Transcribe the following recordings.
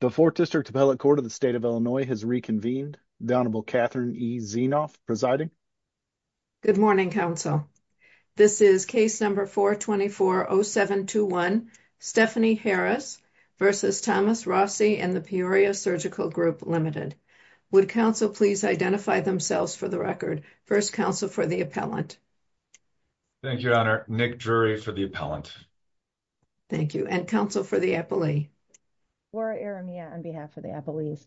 The 4th District Appellate Court of the State of Illinois has reconvened, the Honorable Catherine E. Zienoff presiding. Good morning, counsel. This is case number 424-0721, Stephanie Harris v. Thomas Rossi and the Peoria Surgical Group Ltd. Would counsel please identify themselves for the record? First counsel for the appellant. Thank you, your honor. Nick Drury for the appellant. Thank you. And counsel for the appellee. Laura Aramia on behalf of the appellees.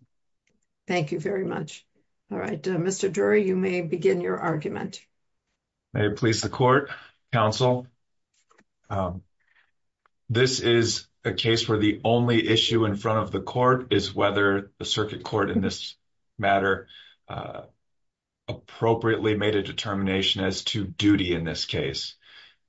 Thank you very much. All right, Mr. Drury, you may begin your argument. May it please the court, counsel. This is a case where the only issue in front of the court is whether the circuit court in this matter appropriately made a determination as to duty in this case.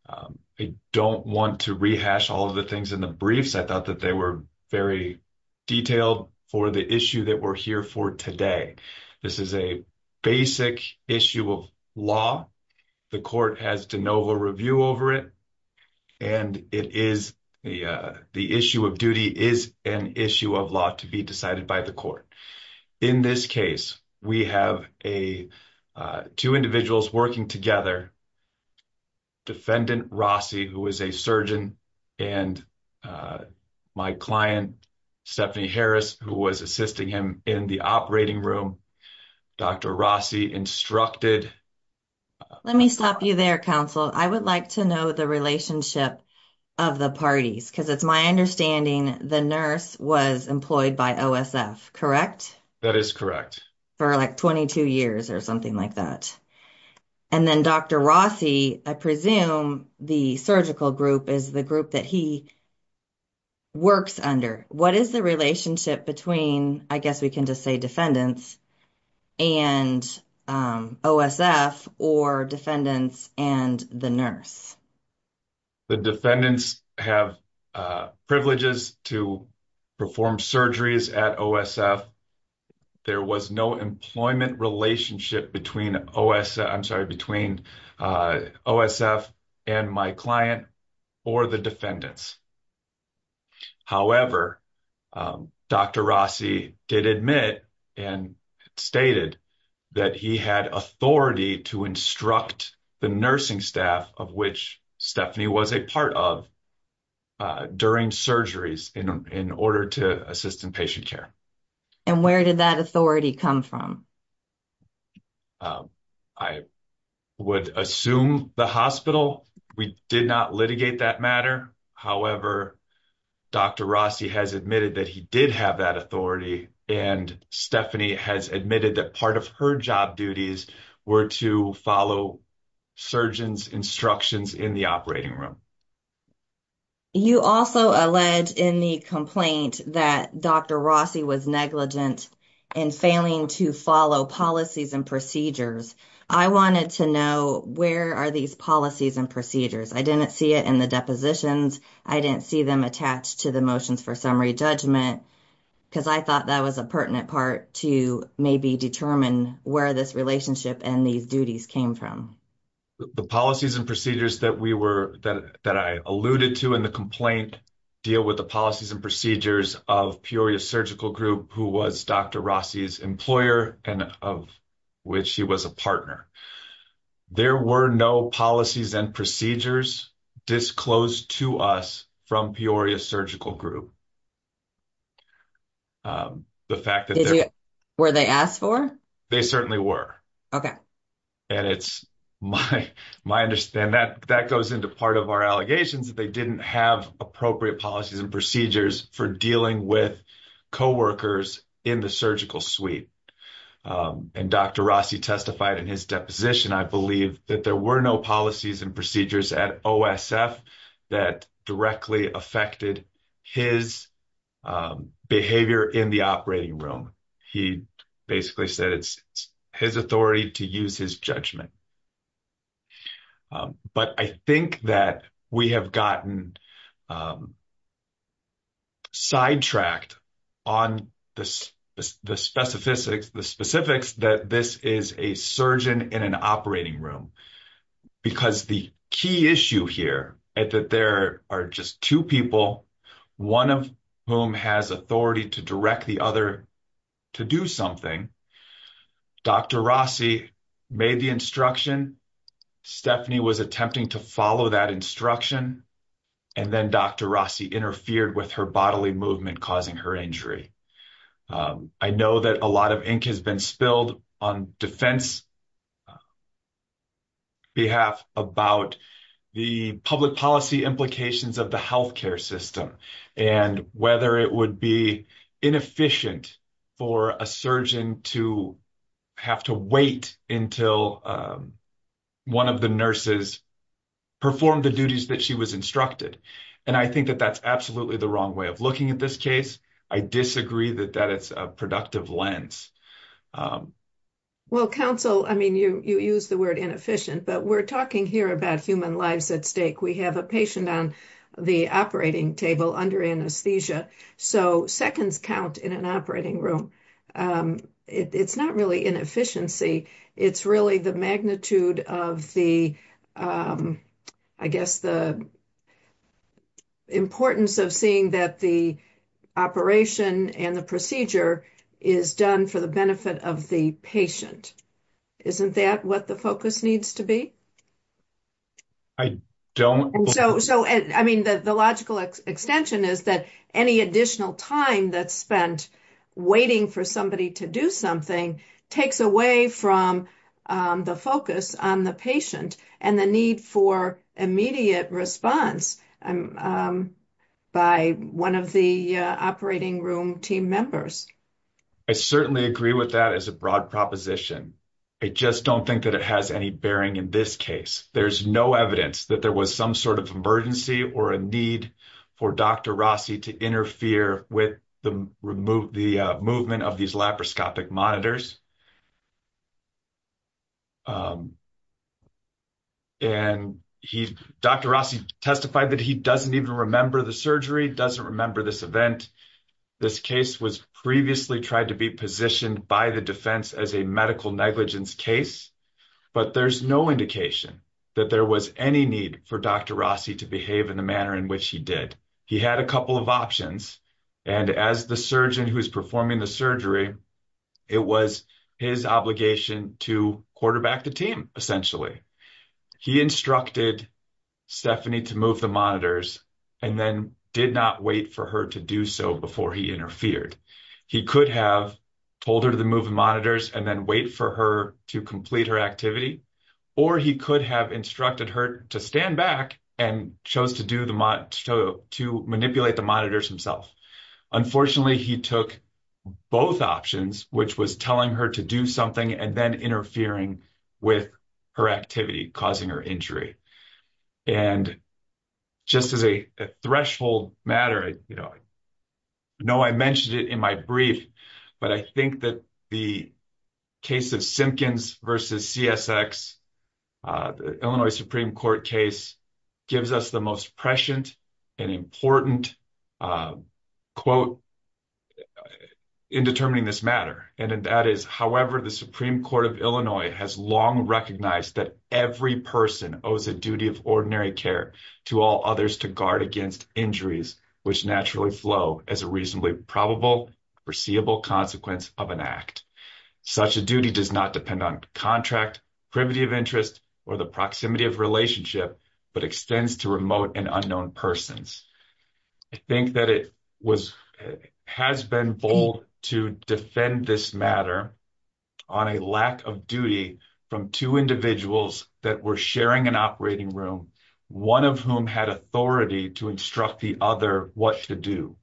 I don't want to rehash all of the things in the briefs. I thought that they were very detailed for the issue that we're here for today. This is a basic issue of law. The court has de novo review over it, and it is the issue of duty is an issue of law to be decided by the court. In this case, we have a two individuals working together. Defendant Rossi, who is a surgeon and my client, Stephanie Harris, who was assisting him in the operating room. Dr. Rossi instructed. Let me stop you there, counsel. I would like to know the relationship of the parties because it's my understanding the nurse was employed by OSF, correct? That is correct. For like 22 years or something like that. And then Dr. Rossi, I presume the surgical group is the group that he works under. What is the relationship between, I guess we can just say defendants and OSF or defendants and the nurse? The defendants have privileges to perform surgeries at OSF. There was no employment relationship between OSF, I'm sorry, between OSF and my client or the defendants. However, Dr. Rossi did admit and stated that he had authority to instruct the nursing staff of which Stephanie was a part of during surgeries in order to assist in patient care. And where did that authority come from? I would assume the hospital. We did not litigate that matter. However, Dr. Rossi has admitted that he did have that authority and Stephanie has admitted that part of her job duties were to follow surgeons instructions in the operating room. You also allege in the complaint that Dr. Rossi was negligent and failing to follow policies and procedures. I wanted to know where are these policies and procedures? I didn't see it in the depositions. I didn't see them attached to the motions for summary judgment because I thought that was a pertinent part to maybe determine where this relationship and these duties came from. The policies and procedures that I alluded to in the complaint deal with the policies and procedures of Peoria Surgical Group, who was Dr. Rossi's employer and of which he was a partner. There were no policies and procedures disclosed to us from Peoria Surgical Group. Were they asked for? They certainly were. And it's my understanding that that goes into part of our allegations that they didn't have appropriate policies and procedures for dealing with co-workers in the surgical suite. And Dr. Rossi testified in his deposition, I believe, that there were no policies and procedures at OSF that directly affected his behavior in the operating room. He basically said it's his authority to use his judgment. But I think that we have gotten sidetracked on the specifics that this is a surgeon in an operating room because the key issue here is that there are just two people, one of whom has authority to direct the other to do something. Dr. Rossi made the instruction. Stephanie was attempting to follow that instruction. And then Dr. Rossi interfered with her bodily movement, causing her injury. I know that a lot of ink has been spilled on defense behalf about the public policy implications of the health care system and whether it would be inefficient for a surgeon to have to wait until one of the nurses performed the duties that she was instructed. And I think that that's absolutely the wrong way of looking at this case. I disagree that that is a productive lens. Well, counsel, I mean, you use the word inefficient, but we're talking here about human lives at stake. We have a patient on the operating table under anesthesia. So seconds count in an operating room. It's not really inefficiency. It's really the magnitude of the, I guess, the importance of seeing that the operation and the procedure is done for the benefit of the patient. Isn't that what the focus needs to be? I don't know. So I mean, the logical extension is that any additional time that's spent waiting for somebody to do something takes away from the focus on the patient and the need for immediate response by one of the operating room team members. I certainly agree with that as a broad proposition. I just don't think that it has any bearing in this case. There's no evidence that there was some sort of emergency or a need for Dr. Rossi to interfere with the movement of these laparoscopic monitors. And Dr. Rossi testified that he doesn't even remember the surgery, doesn't remember this event. This case was previously tried to be positioned by the defense as a medical negligence case. But there's no indication that there was any need for Dr. Rossi to behave in the manner in which he did. He had a couple of options. And as the surgeon who's performing the surgery, it was his obligation to quarterback the team, essentially. He instructed Stephanie to move the monitors and then did not wait for her to do so before he interfered. He could have told her to move the monitors and then wait for her to complete her activity. Or he could have instructed her to stand back and chose to manipulate the monitors himself. Unfortunately, he took both options, which was telling her to do something and then interfering with her activity, causing her injury. And just as a threshold matter, I know I mentioned it in my brief, but I think that the case of Simpkins versus CSX, the Illinois Supreme Court case, gives us the most prescient and important quote in determining this matter. And that is, however, the Supreme Court of Illinois has long recognized that every person owes a duty of ordinary care to all others to guard against injuries, which naturally flow as a reasonably probable, foreseeable consequence of an act. Such a duty does not depend on contract, privity of interest, or the proximity of relationship, but extends to remote and unknown persons. I think that it has been bold to defend this matter on a lack of duty from two individuals that were sharing an operating room, one of whom had authority to instruct the other what to do.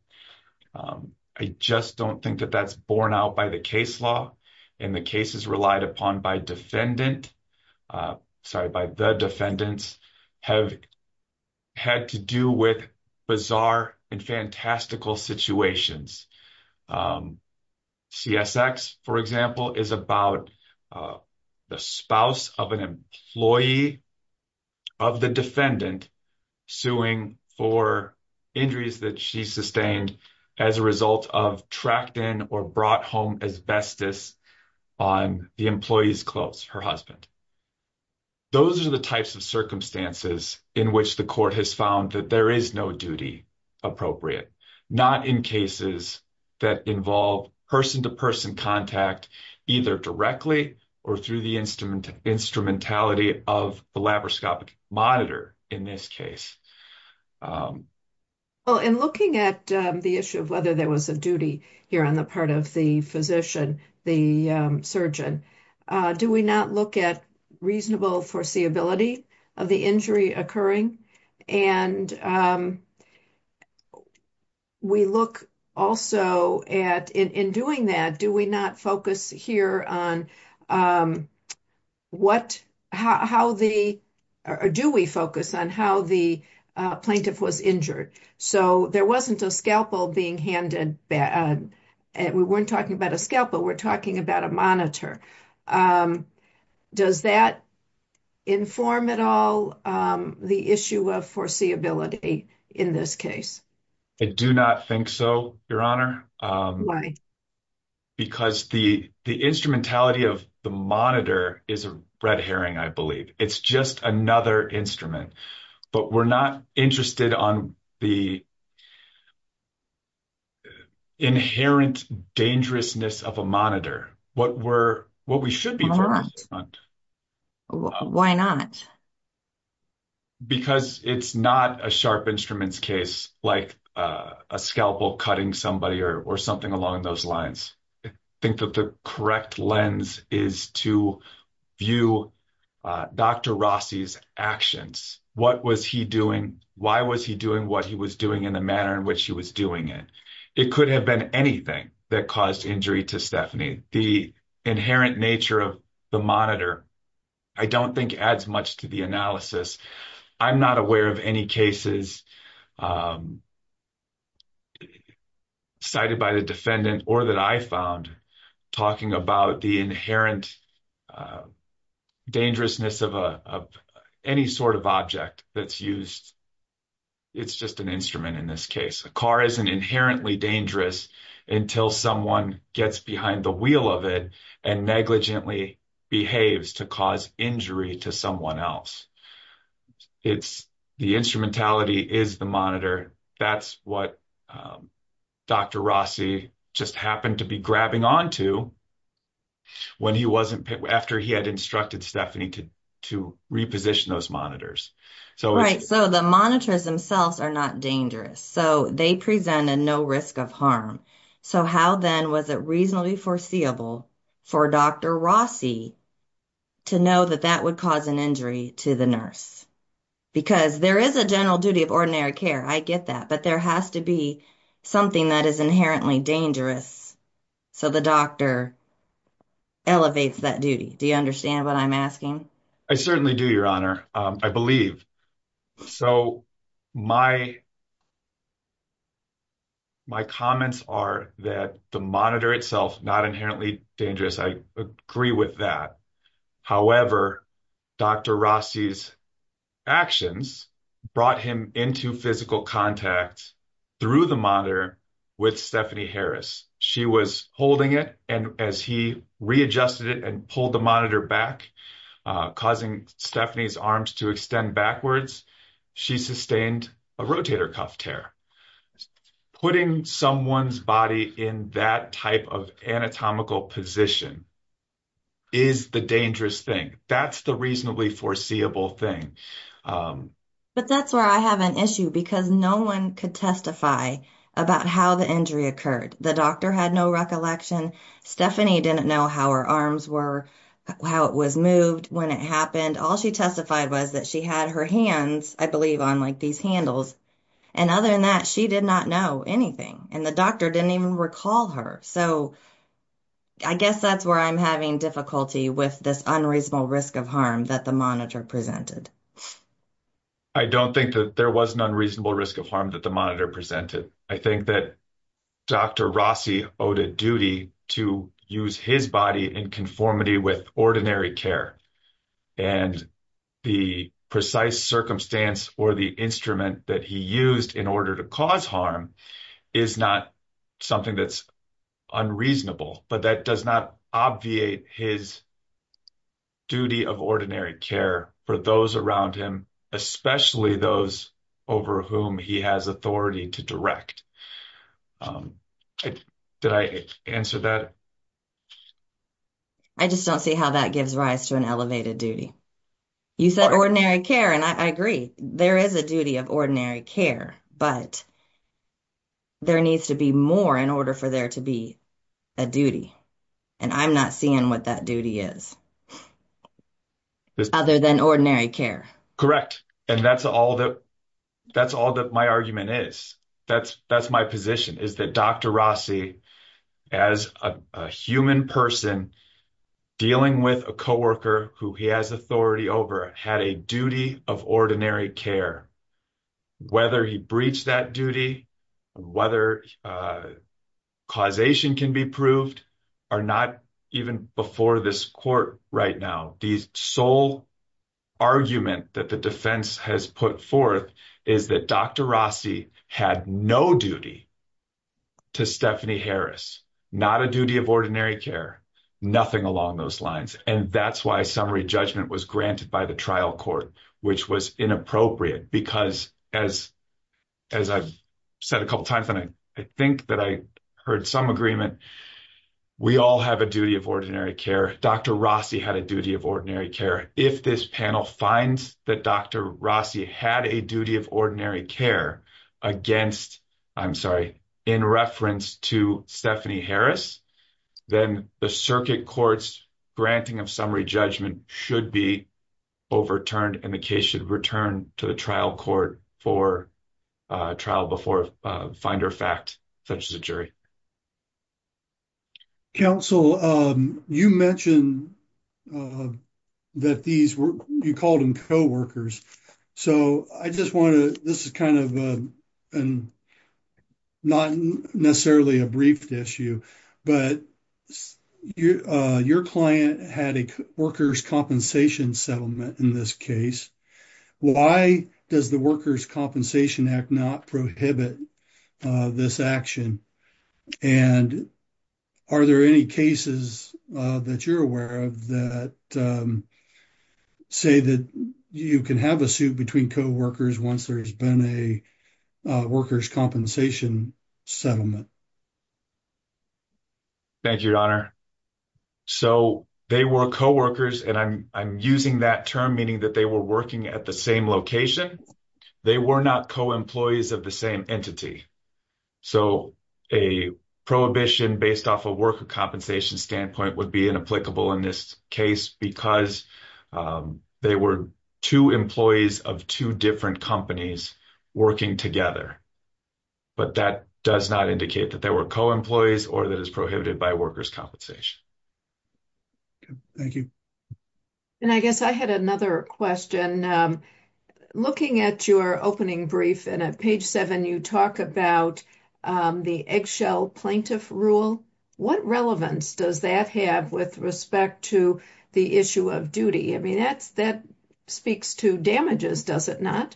I just don't think that that's borne out by the case law and the cases relied upon by defendant, sorry, by the defendants have had to do with bizarre and fantastical situations. CSX, for example, is about the spouse of an employee of the defendant suing for injuries that she sustained as a result of tracked in or brought home asbestos on the employee's clothes, her husband. Those are the types of circumstances in which the court has found that there is no duty appropriate, not in cases that involve person-to-person contact either directly or through the instrumentality of the laparoscopic monitor in this case. Well, in looking at the issue of whether there was a duty here on the part of the physician, the surgeon, do we not look at reasonable foreseeability of the injury occurring? And we look also at in doing that, do we not focus here on do we focus on how the plaintiff was injured? So there wasn't a scalpel being handed, we weren't talking about a scalpel, we're talking about a monitor. Does that inform at all the issue of foreseeability in this case? I do not think so, Your Honor. Because the instrumentality of the monitor is a red herring, I believe. It's just another instrument. But we're not interested on the inherent dangerousness of a monitor, what we should be focused on. Why not? Because it's not a sharp instruments case like a scalpel cutting somebody or something along those lines. I think that the correct lens is to view Dr. Rossi's actions. What was he doing? Why was he doing what he was doing in the manner in which he was doing it? It could have been anything that caused injury to Stephanie. The inherent nature of the monitor, I don't think adds much to the analysis. I'm not aware of any cases cited by the defendant or that I found talking about the inherent dangerousness of any sort of object that's used. It's just an instrument in this case. A car isn't inherently dangerous until someone gets behind the wheel of it and negligently behaves to cause injury to someone else. The instrumentality is the monitor. That's what Dr. Rossi just happened to be grabbing on to after he had instructed Stephanie to reposition those monitors. The monitors themselves are not dangerous. They present a no risk of harm. How then was it reasonably foreseeable for Dr. Rossi to know that that would cause an injury to the nurse? Because there is a general duty of ordinary care. I get that. But there has to be something that is inherently dangerous so the doctor elevates that duty. Do you understand what I'm asking? I certainly do, Your Honor. I believe. My comments are that the monitor itself is not inherently dangerous. I agree with that. However, Dr. Rossi's actions brought him into physical contact through the monitor with Stephanie Harris. She was holding it and as he readjusted it and pulled the monitor back, causing Stephanie's arms to extend backwards, she sustained a rotator cuff tear. Putting someone's body in that type of anatomical position is the dangerous thing. That's the reasonably foreseeable thing. But that's where I have an issue because no one could testify about how the injury occurred. The doctor had no recollection. Stephanie didn't know how her arms were, how it was moved, when it happened. All she testified was that she had her hands, I believe, on these handles. Other than that, she did not know anything and the doctor didn't even recall her. I guess that's where I'm having difficulty with this unreasonable risk of harm that the monitor presented. I don't think that there was an unreasonable risk of harm that the monitor presented. I think that Dr. Rossi owed a duty to use his body in conformity with ordinary care. And the precise circumstance or the instrument that he used in order to cause harm is not something that's unreasonable. But that does not obviate his duty of ordinary care for those around him, especially those over whom he has authority to direct. Did I answer that? I just don't see how that gives rise to an elevated duty. You said ordinary care and I agree. There is a duty of ordinary care, but there needs to be more in order for there to be a duty. And I'm not seeing what that duty is other than ordinary care. Correct. And that's all that my argument is. That's my position is that Dr. Rossi, as a human person dealing with a co-worker who he has authority over, had a duty of ordinary care. Whether he breached that duty, whether causation can be proved, are not even before this court right now. The sole argument that the defense has put forth is that Dr. Rossi had no duty to Stephanie Harris, not a duty of ordinary care, nothing along those lines. And that's why summary judgment was granted by the trial court, which was inappropriate. Because as I've said a couple times, and I think that I heard some agreement, we all have a duty of ordinary care. Dr. Rossi had a duty of ordinary care. If this panel finds that Dr. Rossi had a duty of ordinary care against, I'm sorry, in reference to Stephanie Harris, then the circuit court's granting of summary judgment should be overturned and the case should return to the trial court for trial before finder fact, such as a jury. Counsel, you mentioned that these were, you called them co-workers. So I just want to, this is kind of a, not necessarily a briefed issue, but your client had a workers' compensation settlement in this case. Why does the Workers' Compensation Act not prohibit this action? And are there any cases that you're aware of that say that you can have a suit between co-workers once there's been a workers' compensation settlement? Thank you, Your Honor. So they were co-workers, and I'm using that term, meaning that they were working at the same location. They were not co-employees of the would be inapplicable in this case because they were two employees of two different companies working together. But that does not indicate that they were co-employees or that it's prohibited by workers' compensation. Thank you. And I guess I had another question. Looking at your opening brief and at page seven, you talk about the eggshell plaintiff rule. What relevance does that have with respect to the issue of duty? I mean, that speaks to damages, does it not?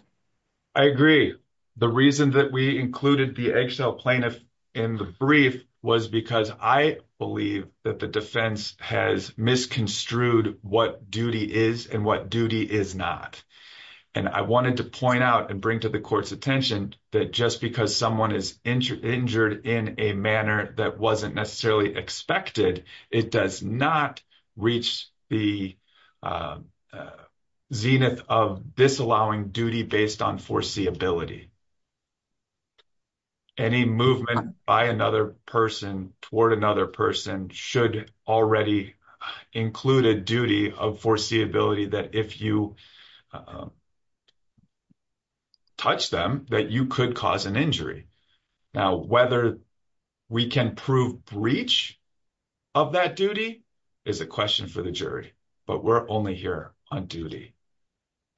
I agree. The reason that we included the eggshell plaintiff in the brief was because I believe that the defense has misconstrued what duty is and what duty is not. And I wanted to point out and bring to the court's attention that just because someone is injured in a manner that wasn't necessarily expected, it does not reach the zenith of disallowing duty based on foreseeability. Any movement by another person toward another person should already include a duty of that if you touch them, that you could cause an injury. Now, whether we can prove breach of that duty is a question for the jury, but we're only here on duty.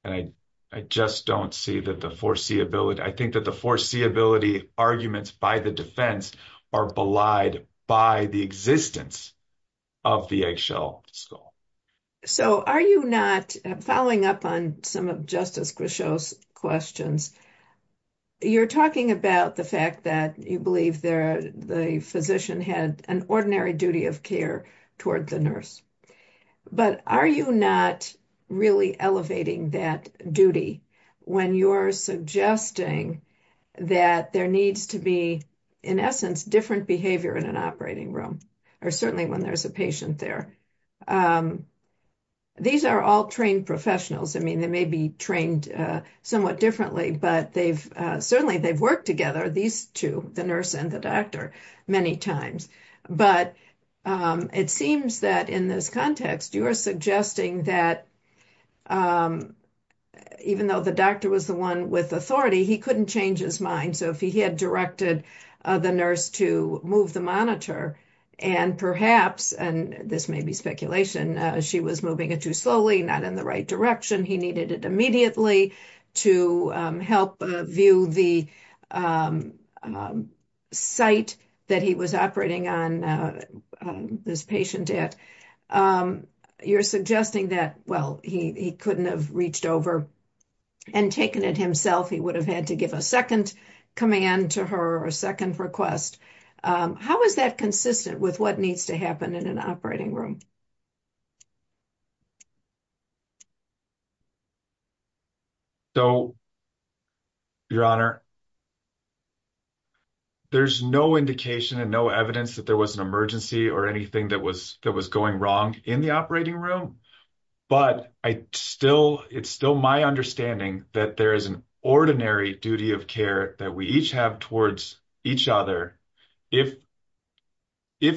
And I just don't see that the foreseeability, I think that the foreseeability arguments by the defense are belied by the existence of the eggshell skull. So are you not following up on some of Justice Grisho's questions? You're talking about the fact that you believe the physician had an ordinary duty of care toward the nurse, but are you not really elevating that duty when you're suggesting that there needs to be, in essence, different behavior in an operating room, or certainly when there's a patient there? These are all trained professionals. I mean, they may be trained somewhat differently, but certainly they've worked together, these two, the nurse and the doctor, many times. But it seems that in this context, you are suggesting that even though the doctor was the one with authority, he couldn't change his mind. So if he had directed the nurse to move the monitor and perhaps, and this may be speculation, she was moving it too slowly, not in the right direction, he needed it immediately to help view the site that he was operating on this patient at. You're suggesting that, well, he couldn't have reached over and taken it himself. He would have had to give a second command to her or a second request. How is that consistent with what needs to happen in an operating room? So, Your Honor, there's no indication and no evidence that there was an emergency or anything that was going wrong in the operating room. But it's still my understanding that there is an ordinary duty of care that we each have towards each other. If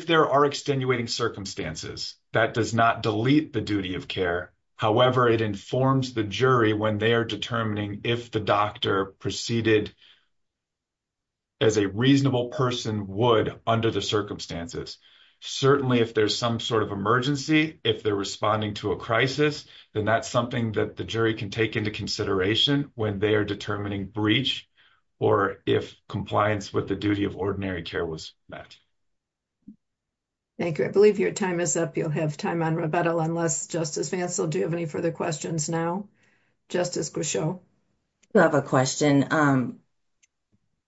there are extenuating circumstances that does not delete the duty of care, however, it informs the jury when they are determining if the doctor proceeded as a reasonable person would under the circumstances. Certainly, if there's some sort of emergency, if they're responding to a crisis, then that's something that the jury can take into consideration when they are determining breach or if compliance with the duty of ordinary care was met. Thank you. I believe your time is up. You'll have time on rebuttal unless, Justice Fancel, do you have any further questions now? Justice Grisho? I have a question.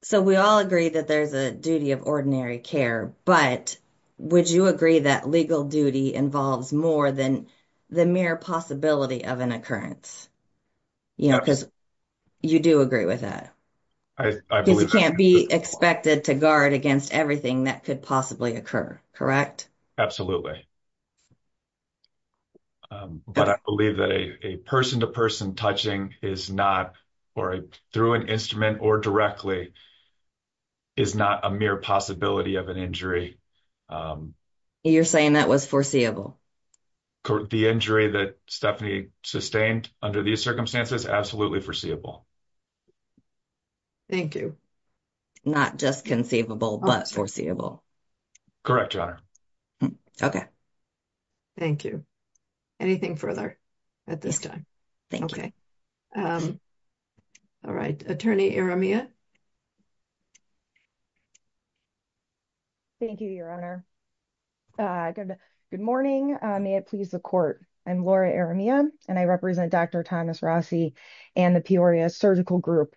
So, we all agree that there's a duty of ordinary care, but would you agree that legal duty involves more than the mere possibility of an occurrence? You know, because you do agree with that. You can't be expected to guard against everything that could possibly occur, correct? Absolutely. But I believe that a person-to-person touching is not, or through an instrument or directly, is not a mere possibility of an injury. You're saying that was foreseeable? The injury that Stephanie sustained under these circumstances, absolutely foreseeable. Thank you. Not just conceivable, but foreseeable. Correct, Your Honor. Okay. Thank you. Anything further at this time? Okay. All right. Attorney Iremia? Thank you, Your Honor. Good morning. May it please the Court. I'm Laura Iremia, and I represent Dr. Thomas Rossi and the Peoria Surgical Group.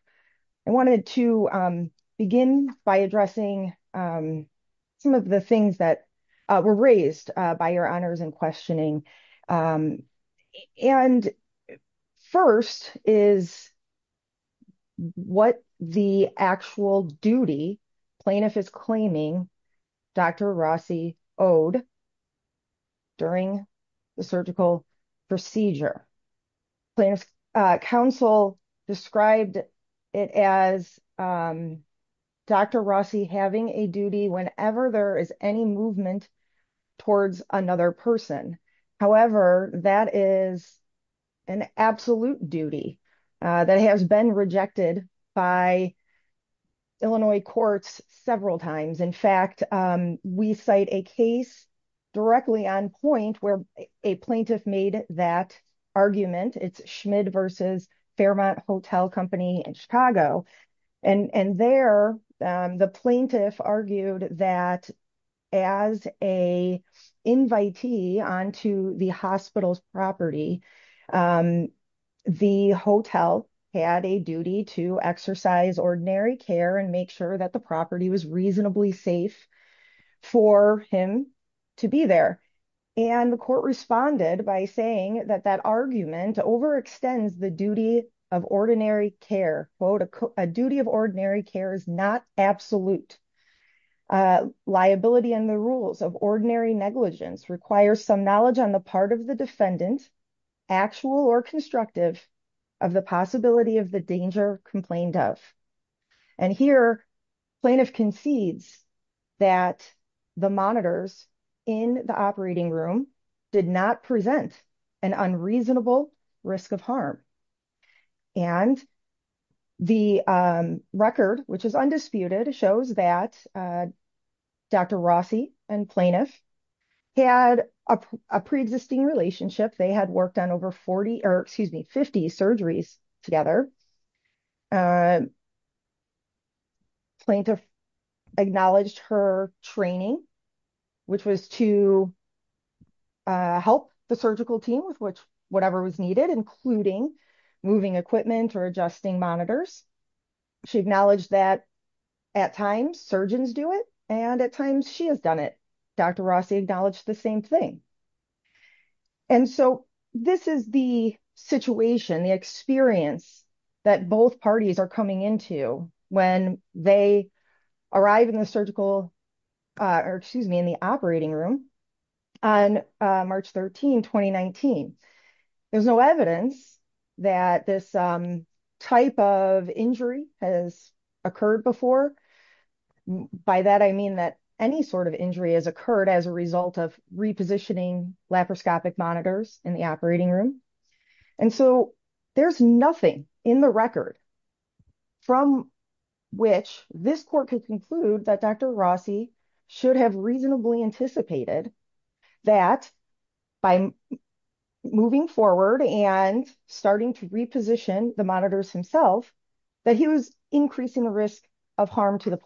I wanted to begin by addressing some of the things that were raised by Your Honors in questioning. And first is what the actual duty plaintiff is claiming Dr. Rossi owed during the surgical procedure. Plaintiff's counsel described it as Dr. Rossi having a duty whenever there is any movement towards another person. However, that is an absolute duty that has been rejected by Illinois courts several times. In fact, we cite a case directly on point where a plaintiff made that argument. It's Schmidt versus Fairmont Hotel Company in Chicago. And there, the plaintiff argued that as a invitee onto the hospital's property, the hotel had a duty to exercise ordinary care and make sure that the property was reasonably safe for him to be there. And the court responded by saying that that argument overextends the duty of ordinary care, quote, a duty of care is not absolute. Liability and the rules of ordinary negligence require some knowledge on the part of the defendant, actual or constructive of the possibility of the danger complained of. And here, plaintiff concedes that the monitors in the operating room did not present an unreasonable risk of harm. And the record, which is undisputed, shows that Dr. Rossi and plaintiff had a pre-existing relationship. They had worked on over 40, or excuse me, 50 surgeries together. Plaintiff acknowledged her training, which was to help the surgical team with whatever was needed, including moving equipment or adjusting monitors. She acknowledged that at times surgeons do it, and at times she has done it. Dr. Rossi acknowledged the same thing. And so this is the situation, the experience that both parties are on March 13, 2019. There's no evidence that this type of injury has occurred before. By that, I mean that any sort of injury has occurred as a result of repositioning laparoscopic monitors in the operating room. And so there's nothing in the record from which this court could conclude that Dr. Rossi should have reasonably anticipated that by moving forward and starting to reposition the monitors himself, that he was increasing the risk of harm to the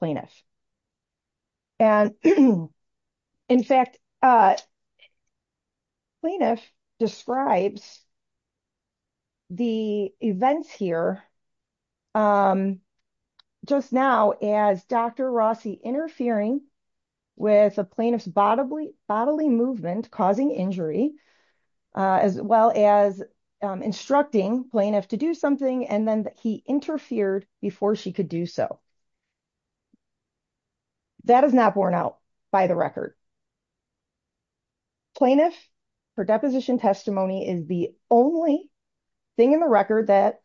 interfering with a plaintiff's bodily movement, causing injury, as well as instructing plaintiff to do something, and then he interfered before she could do so. That is not borne out by the record. Plaintiff, her deposition testimony is the only thing in the record that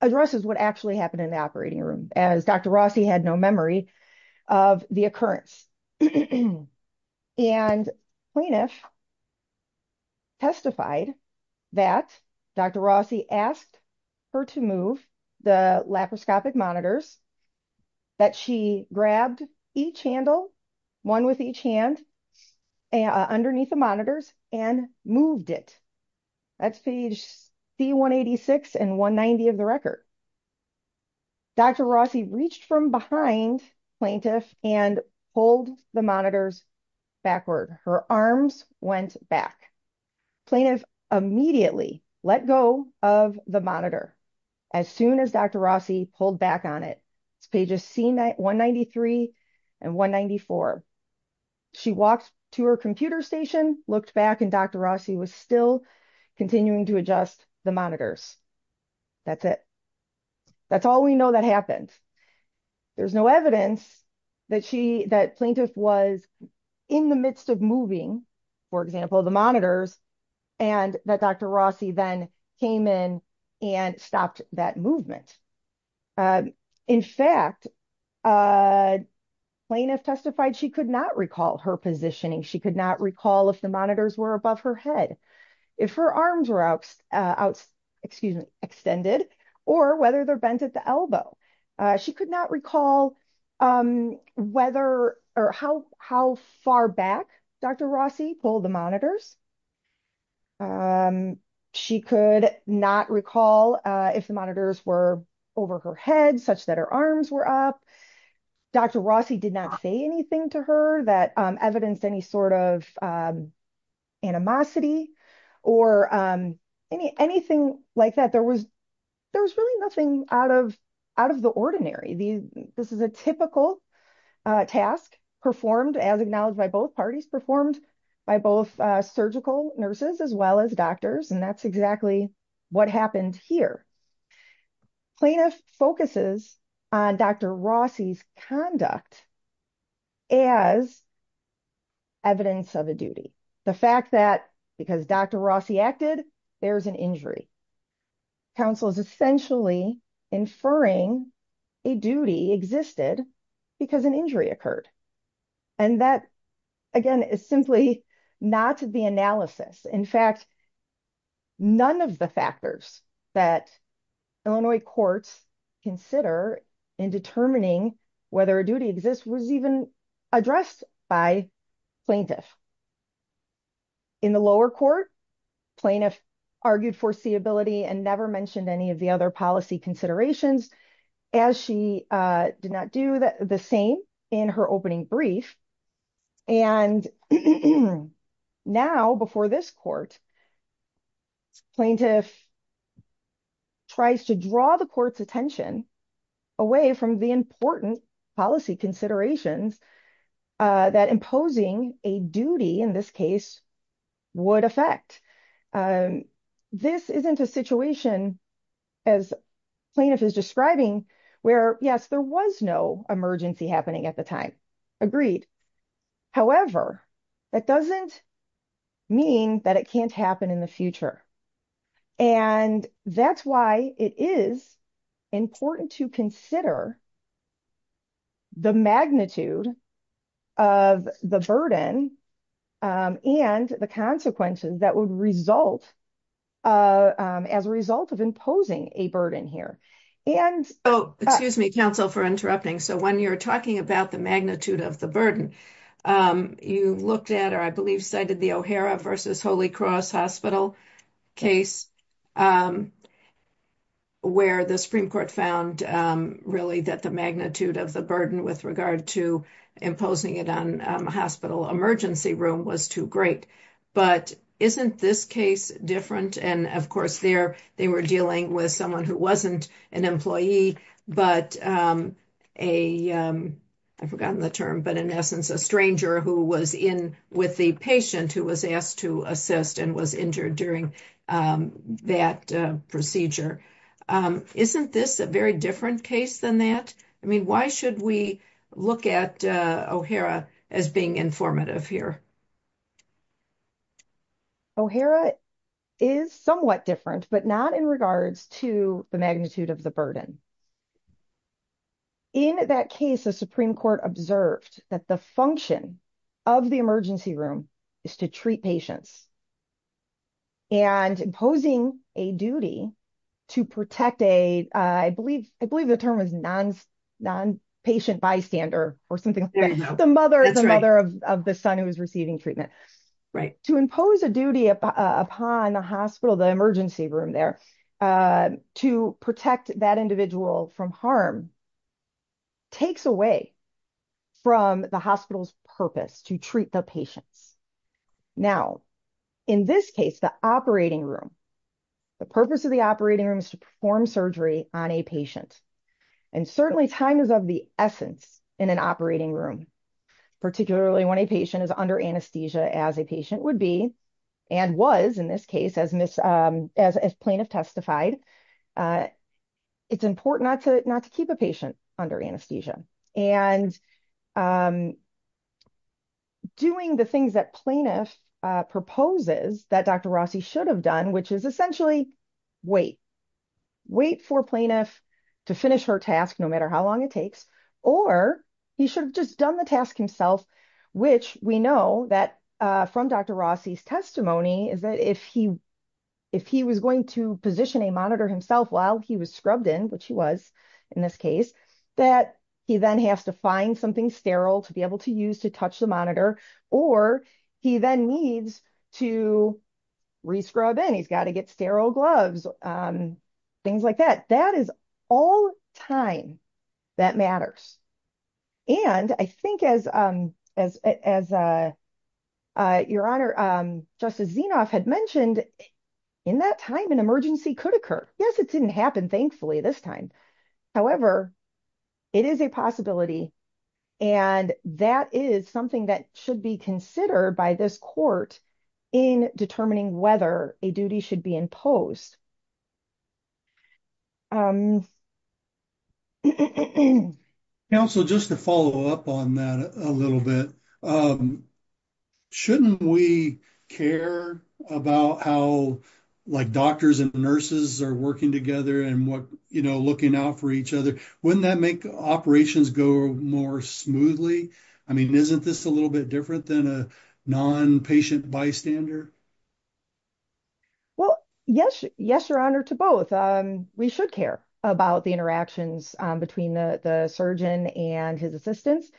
addresses what actually happened in the operating room, as Dr. Rossi had no memory of the occurrence. And plaintiff testified that Dr. Rossi asked her to move the laparoscopic monitors, that she grabbed each handle, one with each hand, underneath the monitors and moved it. That's page C186 and 190 of the record. Dr. Rossi reached from behind plaintiff and pulled the monitors backward. Her arms went back. Plaintiff immediately let go of the monitor as soon as Dr. Rossi pulled back on it. It's pages C193 and 194. She walked to her computer station, looked back, and Dr. Rossi was still continuing to adjust the monitors. That's it. That's all we know that happened. There's no evidence that plaintiff was in the midst of moving, for example, the monitors, and that Dr. Rossi then came in and stopped that movement. In fact, plaintiff testified she could not recall her positioning. She could not recall if the monitors were above her head, if her arms were extended, or whether they're bent at the elbow. She could not recall how far back Dr. Rossi pulled the monitors. She could not recall if the monitors were over her head, such that her arms were up. Dr. Rossi did not say anything to her that evidenced any sort of animosity or anything like that. There was really nothing out of the ordinary. This is a typical task performed, as acknowledged by both parties, performed by both surgical nurses as well as doctors. That's exactly what happened here. Plaintiff focuses on Dr. Rossi's conduct as evidence of a duty. The fact that because Dr. Rossi acted, there's an injury. Counsel is essentially inferring a duty existed because an Illinois court's consider in determining whether a duty exists was even addressed by plaintiff. In the lower court, plaintiff argued foreseeability and never mentioned any of the other policy considerations, as she did not do the same in her opening brief. And now before this court, plaintiff tries to draw the court's attention away from the important policy considerations that imposing a duty in this case would affect. This isn't a situation, as plaintiff is describing, where yes, there was no emergency happening at the time. Agreed. However, that doesn't mean that it can't happen in the future. That's why it is important to consider the magnitude of the burden and the consequences that would result as a result of imposing a burden here. Oh, excuse me, counsel for interrupting. So when you're talking about the magnitude of the burden, you looked at, or I believe cited the O'Hara versus Holy Cross Hospital case, where the Supreme Court found really that the magnitude of the burden with regard to imposing it on a hospital emergency room was too great. But isn't this case different? And of course, there, they were dealing with someone who wasn't an employee, but a, I've forgotten the term, but in essence, a stranger who was in with the patient who was asked to assist and was injured during that procedure. Isn't this a very different case than that? I mean, why should we look at O'Hara as being informative here? O'Hara is somewhat different, but not in regards to the magnitude of the burden. In that case, the Supreme Court observed that the function of the emergency room is to treat patients and imposing a duty to protect a, I believe the term was non-patient bystander or something like that. The mother of the son who was receiving treatment. To impose a duty upon the hospital, the emergency room there to protect that individual from harm takes away from the purpose to treat the patients. Now, in this case, the operating room, the purpose of the operating room is to perform surgery on a patient. And certainly time is of the essence in an operating room, particularly when a patient is under anesthesia as a patient would be, and was in this case as plaintiff testified. It's important not to keep a patient under anesthesia. And doing the things that plaintiff proposes that Dr. Rossi should have done, which is essentially wait. Wait for plaintiff to finish her task, no matter how long it takes, or he should have just done the task himself, which we know that from Dr. Rossi's testimony is that if he was going to position a monitor himself while he was scrubbed in, which he was in this case, that he then has to find something sterile to be able to use to touch the monitor, or he then needs to re-scrub in. He's got to get sterile gloves, things like that. That is all time that matters. And I think as your honor, Justice Zinoff had mentioned, in that time, emergency could occur. Yes, it didn't happen thankfully this time. However, it is a possibility and that is something that should be considered by this court in determining whether a duty should be imposed. Counsel, just to follow up on that a little bit, shouldn't we care about how like doctors and nurses are working together and what, you know, looking out for each other? Wouldn't that make operations go more smoothly? I mean, isn't this a little bit different than a non-patient bystander? Well, yes, your honor, to both. We should care about the interactions between the surgeon and his assistants,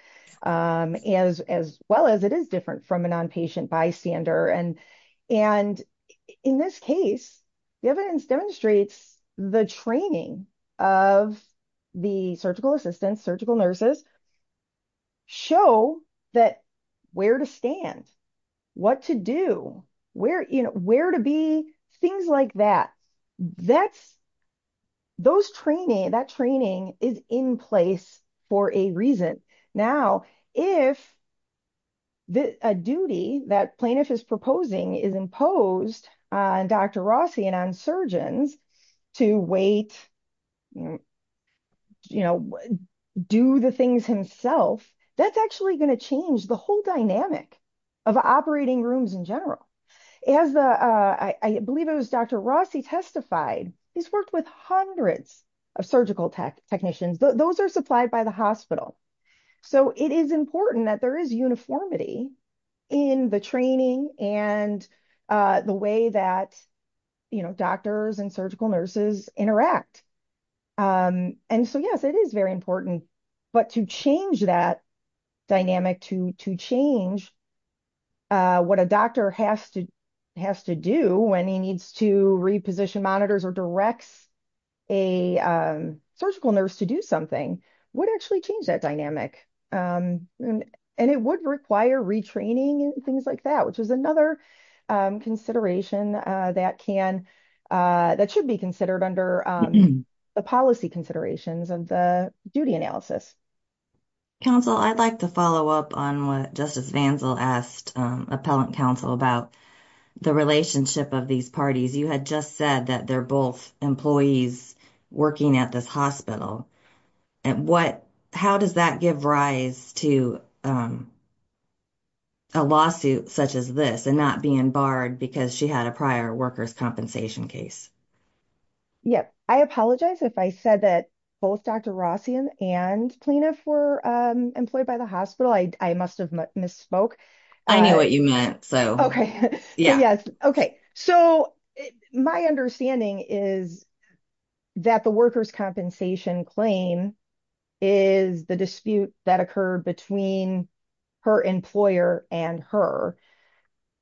as well as it is different from a non-patient bystander. And in this case, the evidence demonstrates the training of the surgical assistants, surgical nurses, show that where to stand, what to do, where, you know, where to be, things like that. That's, those training, that training is in place for a reason. Now, if the duty that plaintiff is proposing is imposed on Dr. Rossi and on surgeons to wait, you know, do the things himself, that's actually going to change the whole dynamic of operating rooms in general. As the, I believe it was Dr. Rossi testified, he's worked with hundreds of surgical technicians. Those are supplied by the hospital. So it is important that there is uniformity in the training and the way that, you know, doctors and surgical nurses interact. And so, yes, it is very important, but to change that dynamic to change what a doctor has to do when he needs to reposition monitors or directs a surgical nurse to do something would actually change that dynamic. And it would require retraining and things like that, which is another consideration that can, that should be considered under the policy considerations of the duty analysis. Counsel, I'd like to follow up on what Justice Vanzel asked Appellant Counsel about the relationship of these parties. You had just said that they're both employees working at this hospital. And what, how does that give rise to a lawsuit such as this and not being barred because she had a prior workers' compensation case? Yeah, I apologize if I said that both Dr. Rossi and Plenif were employed by the hospital. I must have misspoke. I knew what you meant. So, yes. Okay. So, my understanding is that the workers' compensation claim is the dispute that occurred between her employer and her.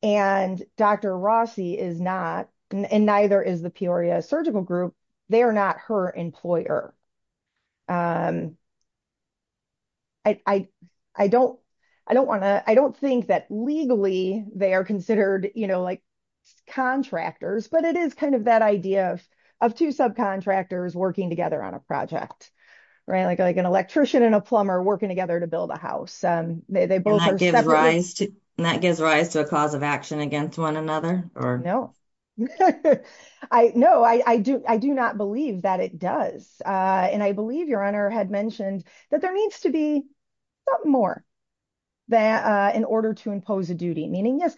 And Dr. Rossi is not, and neither is the Peoria Surgical Group. They are not her employer. I don't want to, I don't think that legally they are considered, you know, like contractors, but it is kind of that idea of two subcontractors working together on a project, right? Like an electrician and a plumber working together to build a house. And that gives rise to a cause against one another? No. No, I do not believe that it does. And I believe your Honor had mentioned that there needs to be something more in order to impose a duty. Meaning, yes,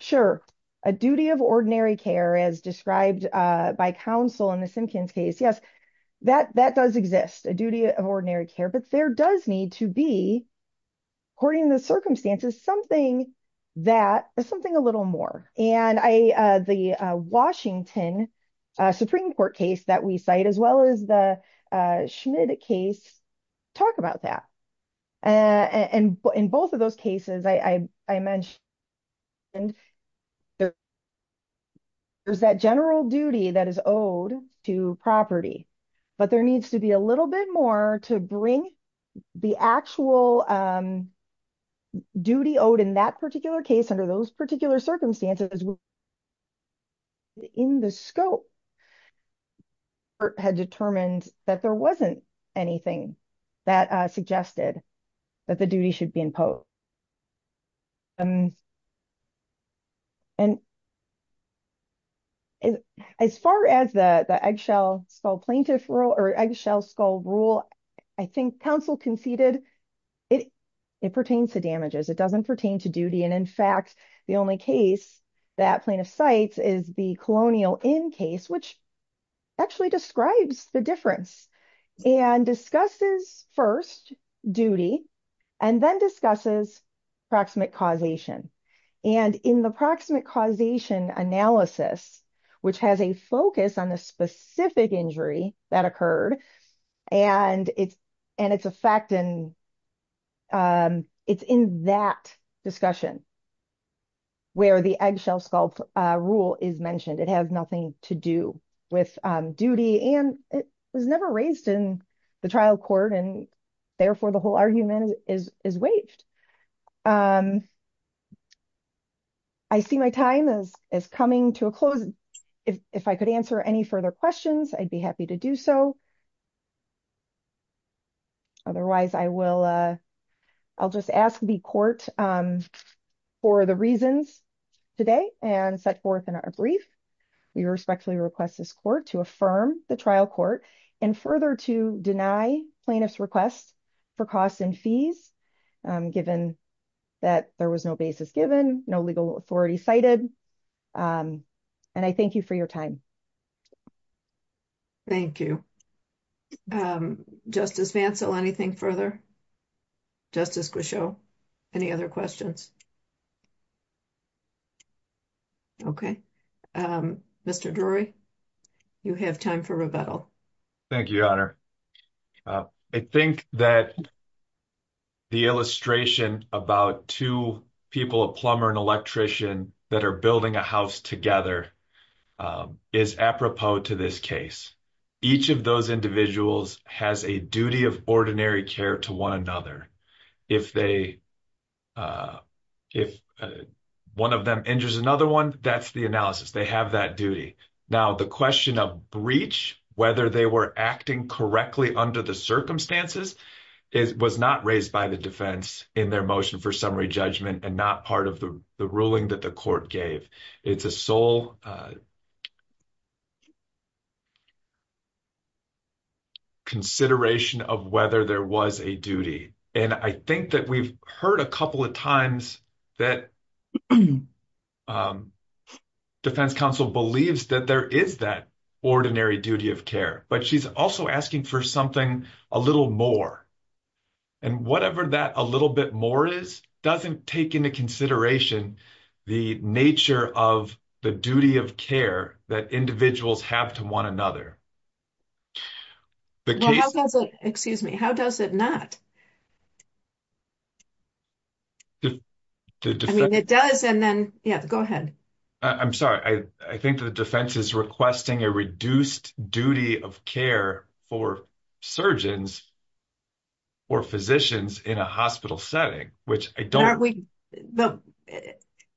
sure, a duty of ordinary care as described by counsel in the Simpkins case. Yes, that does exist, a duty of ordinary care, but there does need to be, according to the circumstances, something that, something a little more. And I, the Washington Supreme Court case that we cite, as well as the Schmidt case, talk about that. And in both of those cases, I mentioned there's that general duty that is owed to property, but there needs to be a little bit more to bring the actual duty owed in that particular case, under those particular circumstances, in the scope. The court had determined that there wasn't anything that suggested that the duty should be imposed. And as far as the eggshell skull plaintiff rule, eggshell skull rule, I think counsel conceded it pertains to damages. It doesn't pertain to duty. And in fact, the only case that plaintiff cites is the colonial in case, which actually describes the difference and discusses first duty and then discusses proximate causation. And in the proximate causation analysis, which has a focus on the specific injury that occurred and it's, and it's a fact in, it's in that discussion where the eggshell skull rule is mentioned. It has nothing to do with duty and it was never raised in the trial court. And my time is coming to a close. If I could answer any further questions, I'd be happy to do so. Otherwise I will, I'll just ask the court for the reasons today and set forth in our brief. We respectfully request this court to affirm the trial court and further to deny plaintiff's request for costs and fees given that there was no basis given no legal authority cited. And I thank you for your time. Thank you. Justice Vancell, anything further? Justice Grisho, any other questions? Okay. Mr. Drury, you have time for rebuttal. Thank you, your honor. I think that the illustration about two people, a plumber and electrician that are building a house together is apropos to this case. Each of those individuals has a duty of ordinary care to one another. If they, if one of them injures another one, that's the analysis. They have that Now the question of breach, whether they were acting correctly under the circumstances was not raised by the defense in their motion for summary judgment and not part of the ruling that the court gave. It's a sole consideration of whether there was a duty. And I think that we've heard a couple of times that defense counsel believes that there is that ordinary duty of care, but she's also asking for something a little more and whatever that a little bit more is doesn't take into consideration the nature of the duty of care that individuals have to one another. Excuse me. How does it not? I mean, it does. And then yeah, go ahead. I'm sorry. I think the defense is requesting a reduced duty of care for surgeons or physicians in a hospital setting, which I don't.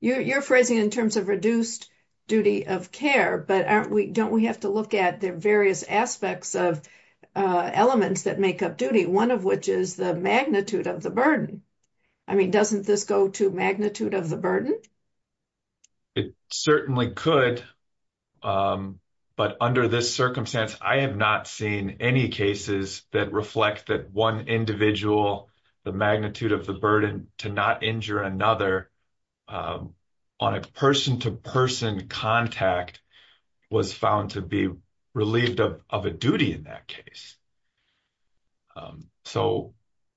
You're phrasing in terms of reduced duty of care, but aren't we, don't we have to look at the various aspects of elements that make up duty, one of which is the magnitude of the burden. I mean, doesn't this go to magnitude of the burden? It certainly could. But under this circumstance, I have not seen any cases that reflect that one individual, the magnitude of the burden to not injure another on a person to person contact was found to be relieved of a duty in that case. So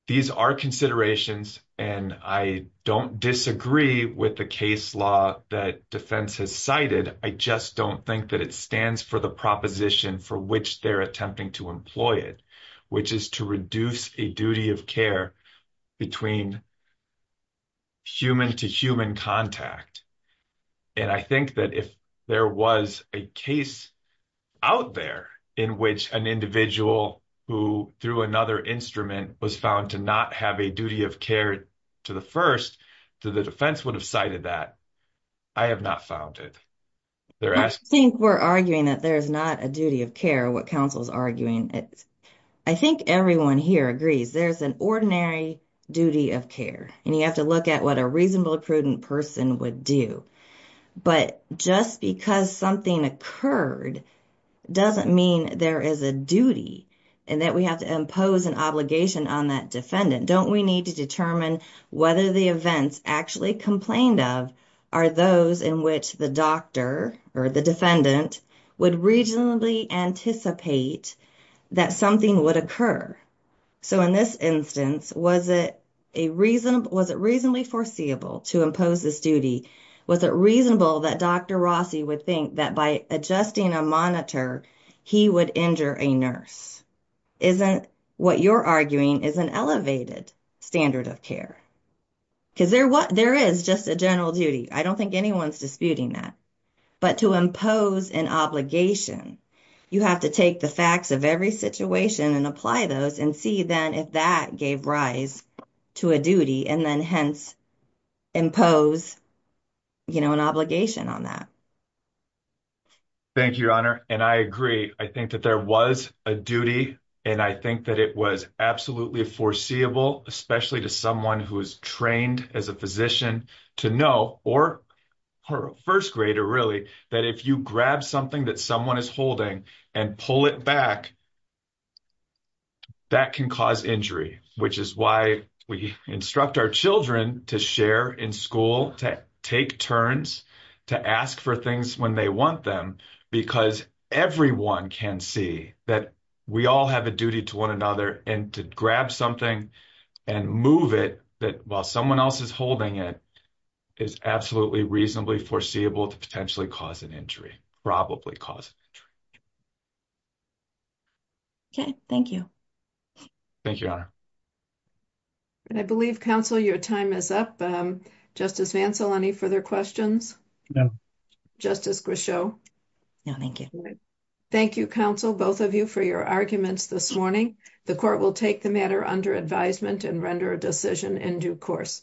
these are considerations, and I don't disagree with the case law that defense has cited. I just don't think that it stands for the proposition for which they're attempting to employ it, which is to reduce a duty of care between human to human contact. And I think that if there was a case out there in which an individual who through another instrument was found to not have a duty of care to the first, to the defense would have cited that. I have not found it. I think we're arguing that there's not a duty of care, what counsel's arguing. I think everyone here agrees there's an ordinary duty of care, and you have to look at what a reasonable, prudent person would do. But just because something occurred doesn't mean there is a duty and that we have to impose an obligation on that defendant. Don't we need to determine whether the events actually complained of are those in which the doctor or the defendant would reasonably anticipate that something would occur. So in this instance, was it reasonably foreseeable to impose this duty? Was it reasonable that Dr. Rossi would think that by adjusting a monitor, he would injure a nurse? Isn't what you're arguing is an elevated standard of care? Because there is just a general duty. I don't think anyone's disputing that. But to impose an obligation, you have to take the facts of every situation and apply those and see then if that gave rise to a duty and then hence impose an obligation on that. Thank you, your honor. And I agree. I think that there was a duty and I think that it was absolutely foreseeable, especially to someone who is trained as a physician to know or her first grader, really, that if you grab something that someone is holding and pull it back, that can cause injury, which is why we instruct our children to share in school, to take turns, to ask for things when they want them, because everyone can see that we all have a duty to one another and to grab something and move it while someone else is holding it is absolutely reasonably foreseeable to potentially cause an injury, probably cause an injury. Okay, thank you. Thank you, your honor. And I believe, counsel, your time is up. Justice Mansell, any further questions? Justice Grishow? No, thank you. Thank you, counsel, both of you for your arguments this morning. The court will take the matter under advisement and render a decision in due course.